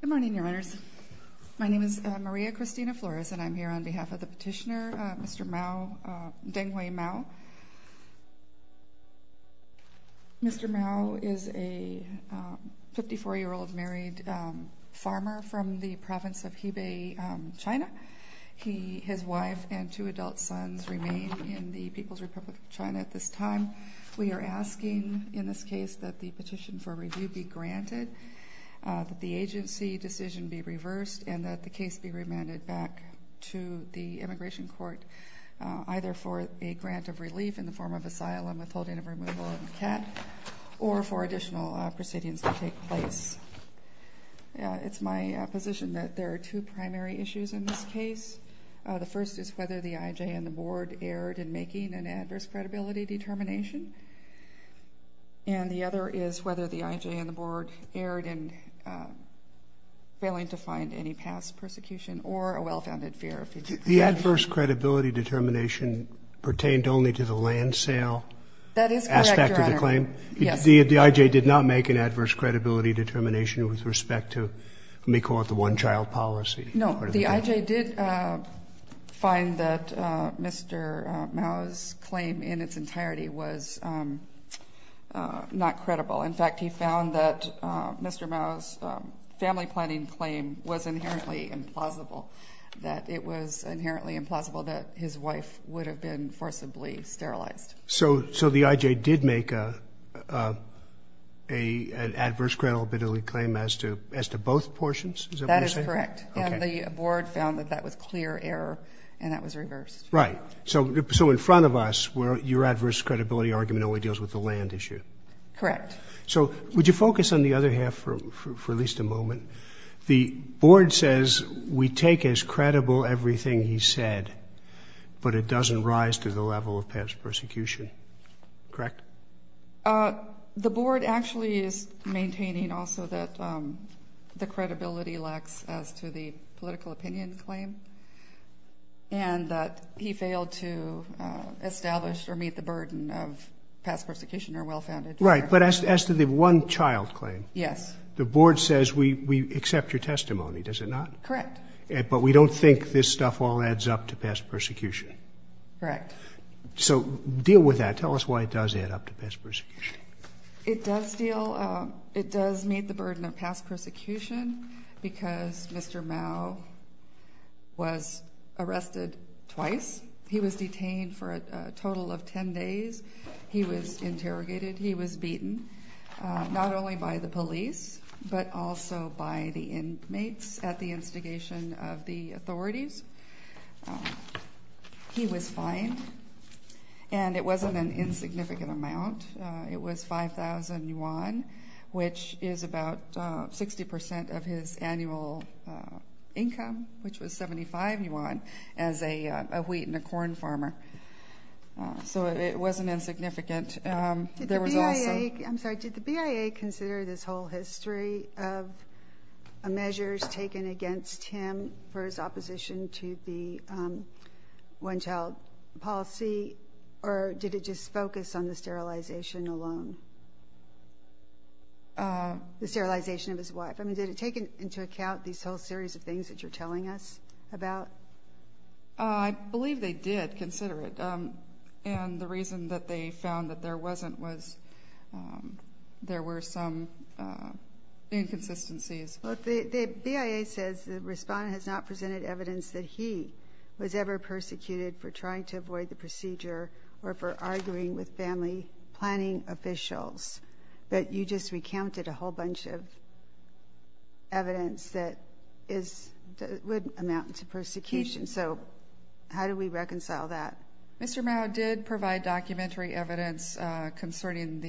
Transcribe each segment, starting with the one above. Good morning your honors. My name is Maria Christina Flores and I'm here on behalf of the petitioner Mr. Mao, Denghui Mao. Mr. Mao is a 54 year old married farmer from the province of Hebei, China. His wife and two adult sons remain in the People's Republic of China at this time. We are asking in this case that the petition for review be granted, that the agency decision be reversed, and that the case be remanded back to the immigration court either for a grant of relief in the form of asylum withholding of removal of the cat or for additional proceedings to take place. It's my position that there are two primary issues in this case. The first is whether the IJ and the board erred in making an adverse credibility determination, and the other is whether the IJ and the board erred in failing to find any past persecution or a well-founded fear of future persecution. The adverse credibility determination pertained only to the land sale aspect of the claim? That is correct, your honor. Yes. The IJ did not make an adverse credibility determination with respect to, let me call it the one child policy? No, the IJ did find that Mr. Mao's in its entirety was not credible. In fact, he found that Mr. Mao's family planning claim was inherently implausible, that it was inherently implausible that his wife would have been forcibly sterilized. So the IJ did make an adverse credibility claim as to both portions? That is correct, and the board found that that was clear error, and that was reversed. Right. So in front of us, your adverse credibility argument only deals with the land issue? Correct. So would you focus on the other half for at least a moment? The board says we take as credible everything he said, but it doesn't rise to the level of past persecution, correct? The board actually is maintaining also that the credibility lacks as to the political opinion claim, and that he failed to establish or meet the burden of past persecution or well-founded error. Right, but as to the one child claim? Yes. The board says we accept your testimony, does it not? Correct. But we don't think this stuff all adds up to past persecution? Correct. So deal with that. Tell us why it does add up to past persecution. It does deal, it does meet the burden of past persecution because Mr. Mao was arrested twice. He was detained for a total of 10 days. He was interrogated. He was beaten, not only by the police, but also by the inmates at the instigation of the authorities. He was fined, and it wasn't an insignificant amount. It was 5,000 yuan, which is about 60% of his annual income, which was 75 yuan as a wheat and a corn farmer. So it wasn't insignificant. I'm sorry, did the BIA consider this whole history of measures taken against him for his opposition to the one child policy, or did it just focus on the sterilization alone? The sterilization of his wife. I mean, did it take into account these whole series of things that you're telling us about? I believe they did consider it, and the reason that they found that there wasn't was there were some inconsistencies. The BIA says the respondent has not presented evidence that he was ever persecuted for trying to avoid the procedure or for arguing with family planning officials, but you just recounted a whole bunch of evidence that would amount to persecution. So how do we reconcile that? Mr. Mao did provide documentary evidence concerning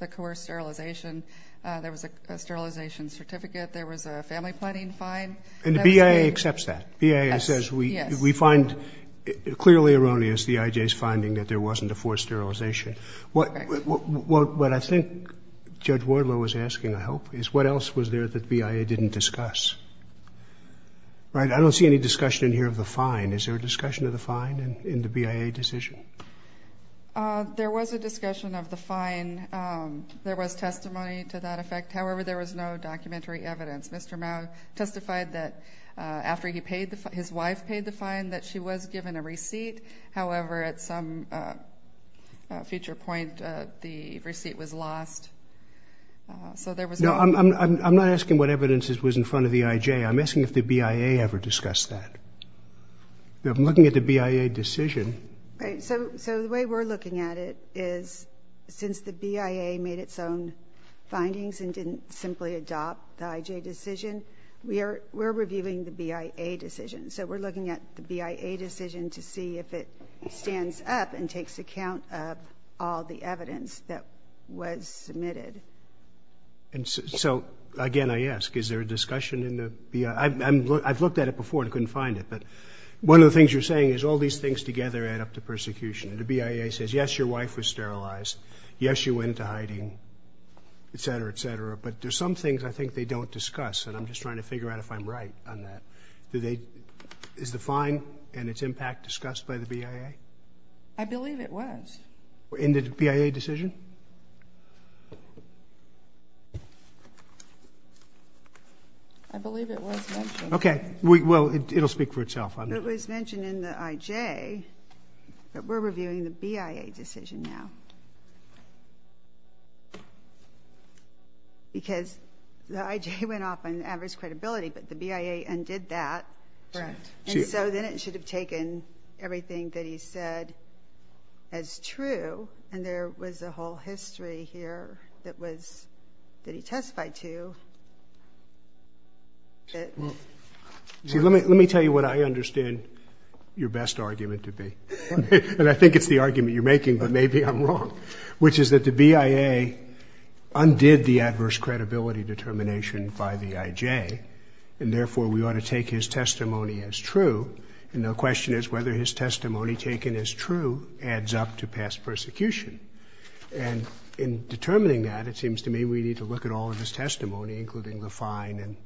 the coerced sterilization. There was a sterilization certificate. There was a family planning fine. And the BIA accepts that. The BIA says we find it clearly erroneous, the IJ's finding, that there wasn't a forced sterilization. What I think Judge Wardlow was asking, I hope, is what else was there that the BIA didn't discuss? Right? I don't see any discussion here of the fine. Is there a discussion of the fine in the BIA decision? There was a discussion of the fine. There was no documentary evidence. Mr. Mao testified that after his wife paid the fine that she was given a receipt. However, at some future point, the receipt was lost. So there was no... No, I'm not asking what evidence was in front of the IJ. I'm asking if the BIA ever discussed that. I'm looking at the BIA decision. Right. So the way we're looking at it is since the BIA made its own findings and didn't simply adopt the IJ decision, we're reviewing the BIA decision. So we're looking at the BIA decision to see if it stands up and takes account of all the evidence that was submitted. So again, I ask, is there a discussion in the BIA? I've looked at it before and couldn't find it. But one of the things you're saying is all these things together add up to persecution. The BIA says, yes, your wife was sterilized. Yes, you went to hiding, et cetera, et cetera. But there's some things I think they don't discuss. And I'm just trying to figure out if I'm right on that. Is the fine and its impact discussed by the BIA? I believe it was. In the BIA decision? I believe it was mentioned. Okay. Well, it'll speak for itself. It was mentioned in the IJ, but we're reviewing the BIA decision now. Because the IJ went off on average credibility, but the BIA undid that. And so then it should have taken everything that he said as true. And there was a whole your best argument to be. And I think it's the argument you're making, but maybe I'm wrong. Which is that the BIA undid the adverse credibility determination by the IJ, and therefore we ought to take his testimony as true. And the question is whether his testimony taken as true adds up to past persecution. And in determining that, it seems to me we need to look at all of his testimony, including the fine and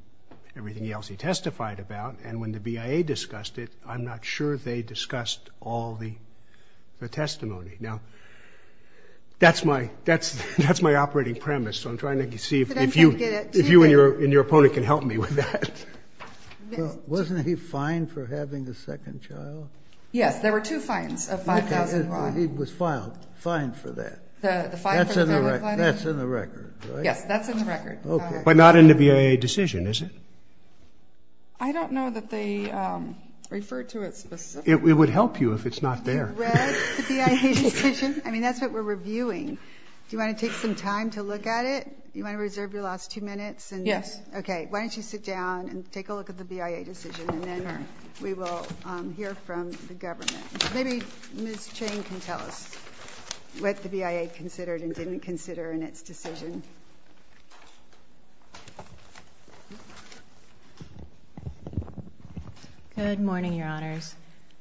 everything else he testified about. And when the BIA discussed it, I'm not sure they discussed all the testimony. Now, that's my operating premise, so I'm trying to see if you and your opponent can help me with that. Wasn't he fined for having a second child? Yes, there were two fines of 5,000 rand. He was fined for that. That's in the record, right? Yes, that's in the record. But not in the BIA decision, is it? I don't know that they referred to it specifically. It would help you if it's not there. You read the BIA decision? I mean, that's what we're reviewing. Do you want to take some time to look at it? You want to reserve your last two minutes? Yes. Okay, why don't you sit down and take a look at the BIA decision, and then we will hear from the government. Maybe Ms. Chain can tell us what the BIA considered and didn't consider in its decision. Good morning, Your Honors.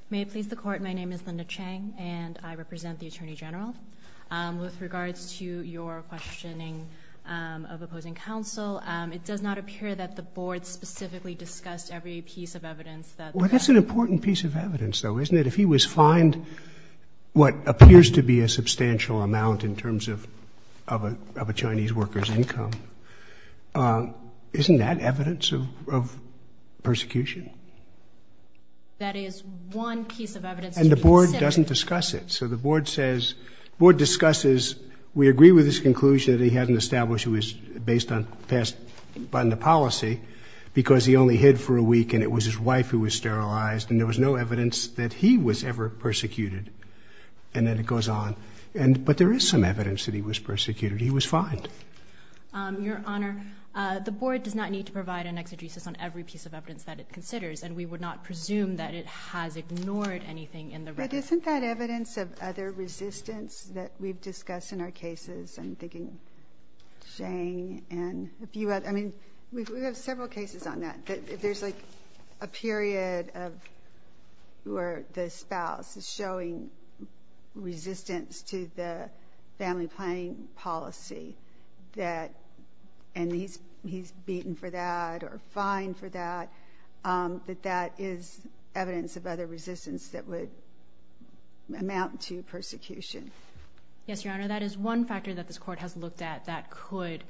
May it please the Court, my name is Linda Chang, and I represent the Attorney General. With regards to your questioning of opposing counsel, it does not appear that the Board specifically discussed every piece of evidence that the Court Well, that's an important piece of evidence, though, isn't it? If he was fined what appears to be a substantial amount in terms of a Chinese worker's income, isn't that evidence of persecution? That is one piece of evidence. And the Board doesn't discuss it. So the Board says, the Board discusses, we agree with his conclusion that he hadn't established it was based on the policy because he only hid for a week and it was his wife who was sterilized, and there was no evidence that he was ever persecuted. And then it goes on. But there is some evidence that he was persecuted. He was fined. Your Honor, the Board does not need to provide an exegesis on every piece of evidence that it considers, and we would not presume that it has ignored anything in the record. But isn't that evidence of other resistance that we've discussed in our cases? I'm thinking Zhang and a few others. I mean, we have several cases on that. There's like a period where the spouse is showing resistance to the family planning policy, and he's beaten for that or fined for that, that that is evidence of other resistance that would amount to persecution. Yes, Your Honor, that is one factor that this Court has looked at that could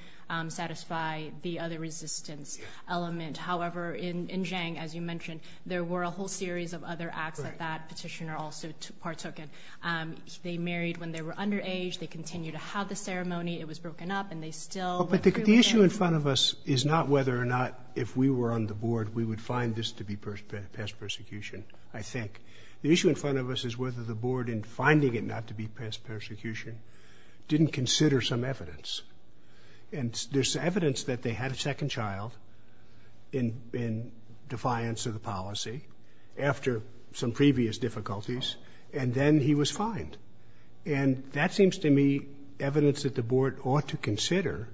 satisfy the other resistance element. However, in Zhang, as you mentioned, there were a whole series of other acts that that petitioner also partook in. They married when they were underage. They continued to have the ceremony. It was broken up, and they still... But the issue in front of us is not whether or not if we were on the Board we would find this to be past persecution, I think. The issue in front of us is whether the Board, in finding it not to be past persecution, didn't consider some evidence. And there's evidence that they had a second child in defiance of the policy after some previous difficulties, and then he was fined. And that seems to me evidence that the Board ought to consider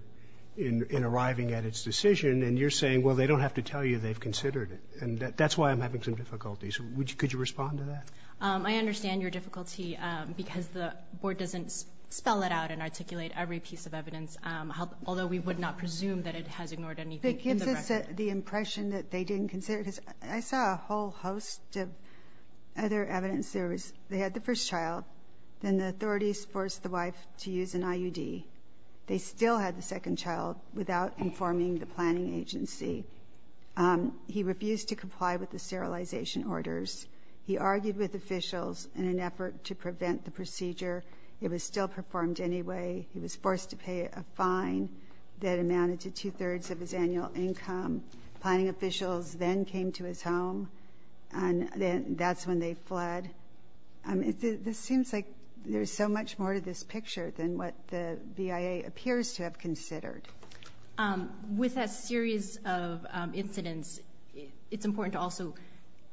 in arriving at its decision. And you're saying, well, they don't have to tell you they've considered it. And that's why I'm having some difficulties. Could you respond to that? I understand your difficulty because the Board doesn't spell it out and articulate every piece of evidence, although we would not presume that it has ignored anything. It gives us the impression that they didn't consider it. I saw a whole host of other evidence. They had the first child. Then the authorities forced the wife to use an IUD. They still had the second child without informing the planning agency. He refused to comply with the sterilization orders. He argued with officials in an effort to prevent the procedure. It was still performed anyway. He was forced to pay a fine that amounted to two-thirds of his annual income. Planning officials then came to his home, and that's when they fled. This seems like there's so much more to this picture than what the BIA appears to have considered. With a series of incidents, it's important to also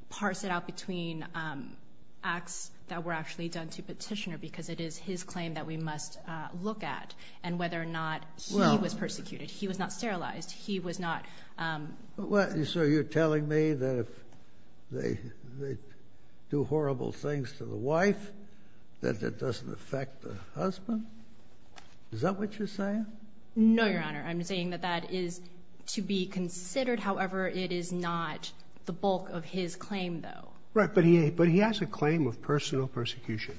parse it out between acts that were actually done to Petitioner, because it is his claim that we must look at, and whether or not he was persecuted. He was not sterilized. He was not... So you're telling me that if they do horrible things to the wife, that it doesn't affect the husband? Is that what you're saying? No, Your Honor. I'm saying that that is to be considered. However, it is not the bulk of his claim, though. Right, but he has a claim of personal persecution.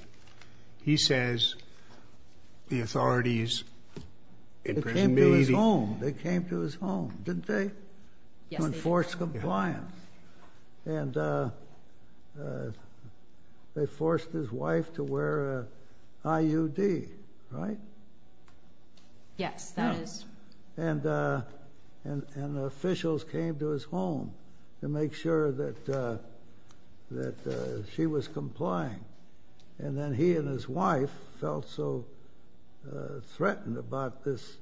He says the authorities... They came to his home. They came to his home, didn't they? Yes, they did. To enforce compliance. And they forced his wife to wear an IUD, right? Yes, that is... And officials came to his home to make sure that she was complying. And then he and his wife felt so threatened about this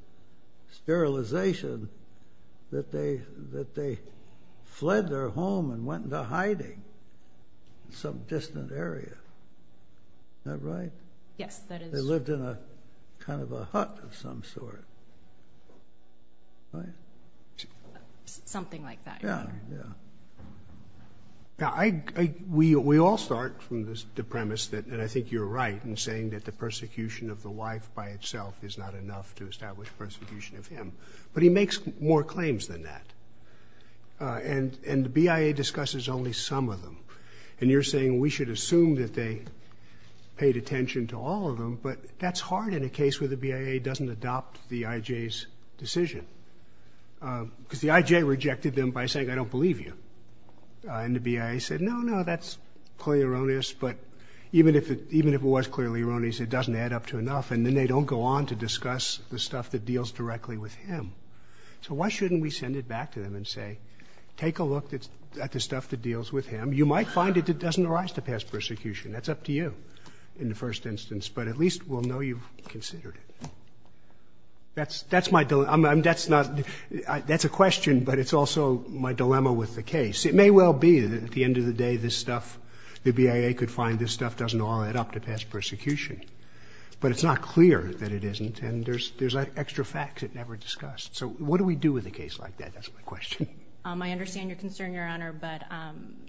sterilization that they fled their home and went into hiding in some distant area. Is that right? Yes, that is... They lived in a kind of a hut of some sort, right? Something like that, Your Honor. Yeah, yeah. Now, we all start from the premise that, and I think you're right in saying that the persecution of the wife by itself is not enough to establish persecution of him. But he makes more claims than that. And the BIA discusses only some of them. And you're saying we should assume that they paid attention to all of them. But that's hard in a case where the BIA doesn't adopt the IJ's decision. Because the IJ rejected them by saying, I don't believe you. And the BIA said, no, no, that's clearly erroneous. But even if it was clearly erroneous, it doesn't add up to enough. And then they don't go on to discuss the stuff that deals directly with him. So why shouldn't we send it back to them and say, take a look at the stuff that deals with him. You might find it that doesn't arise to pass persecution. That's up to you in the first instance. But at least we'll know you've considered it. That's my dilemma. That's not... That's a question, but it's also my dilemma with the case. It may well be that at the end of the day, this stuff, the BIA could find this stuff doesn't all add up to pass persecution. But it's not clear that it isn't. And there's extra facts it never discussed. So what do we do with a case like that? That's my question. I understand your concern, Your Honor. But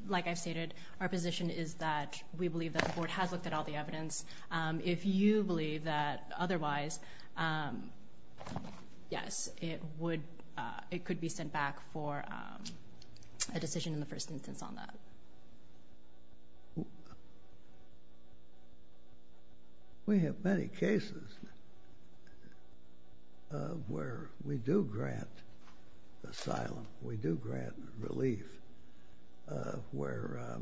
like I've stated, our position is that we believe that the board has looked at all the evidence. If you believe that otherwise, yes, it would, it could be sent back for a decision in the first instance on that. We have many cases where we do grant asylum. We do grant relief where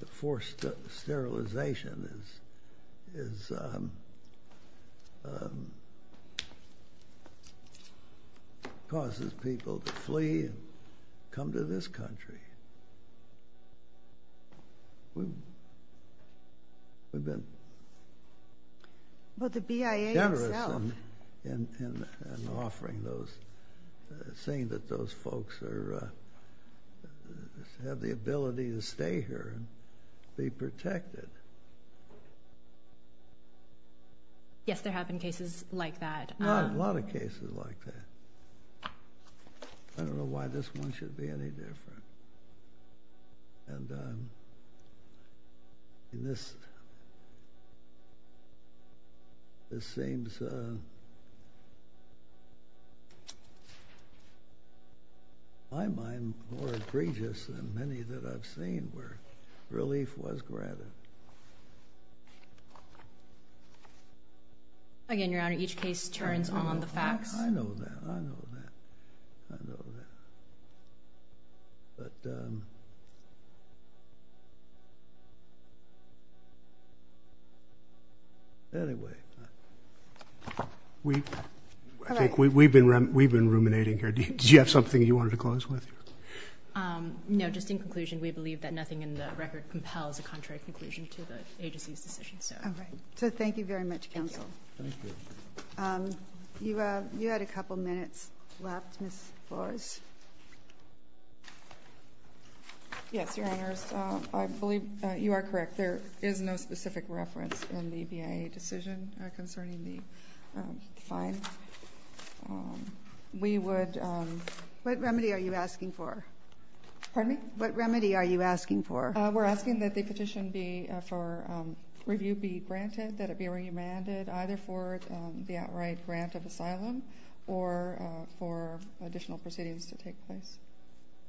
the forced sterilization causes people to flee and come to this country. We've been generous in offering those, saying that those folks have the ability to stay here and be protected. Yes, there have been cases like that. A lot of cases like that. I don't know why this one should be any different. And in this, this seems, in my mind, more egregious than many that I've seen where relief was granted. Again, Your Honor, each case turns on the facts. I know that. I know that. But anyway, we, I think we've been ruminating here. Did you have something you wanted to close with? No, just in conclusion, we believe that nothing in the record compels a contrary conclusion to the agency's decision. So thank you very much, Counsel. Thank you. You had a couple minutes left, Ms. Flores. Yes, Your Honors. I believe you are correct. There is no specific reference in the BIA decision concerning the fine. We would... What remedy are you asking for? Pardon me? What remedy are you asking for? We're asking that the petition be, for review be granted, that it be remanded, either for the outright grant of asylum or for additional proceedings to take place.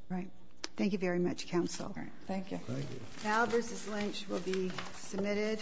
Right. Thank you very much, Counsel. Thank you. Thank you. Now, Bruce's lynch will be submitted.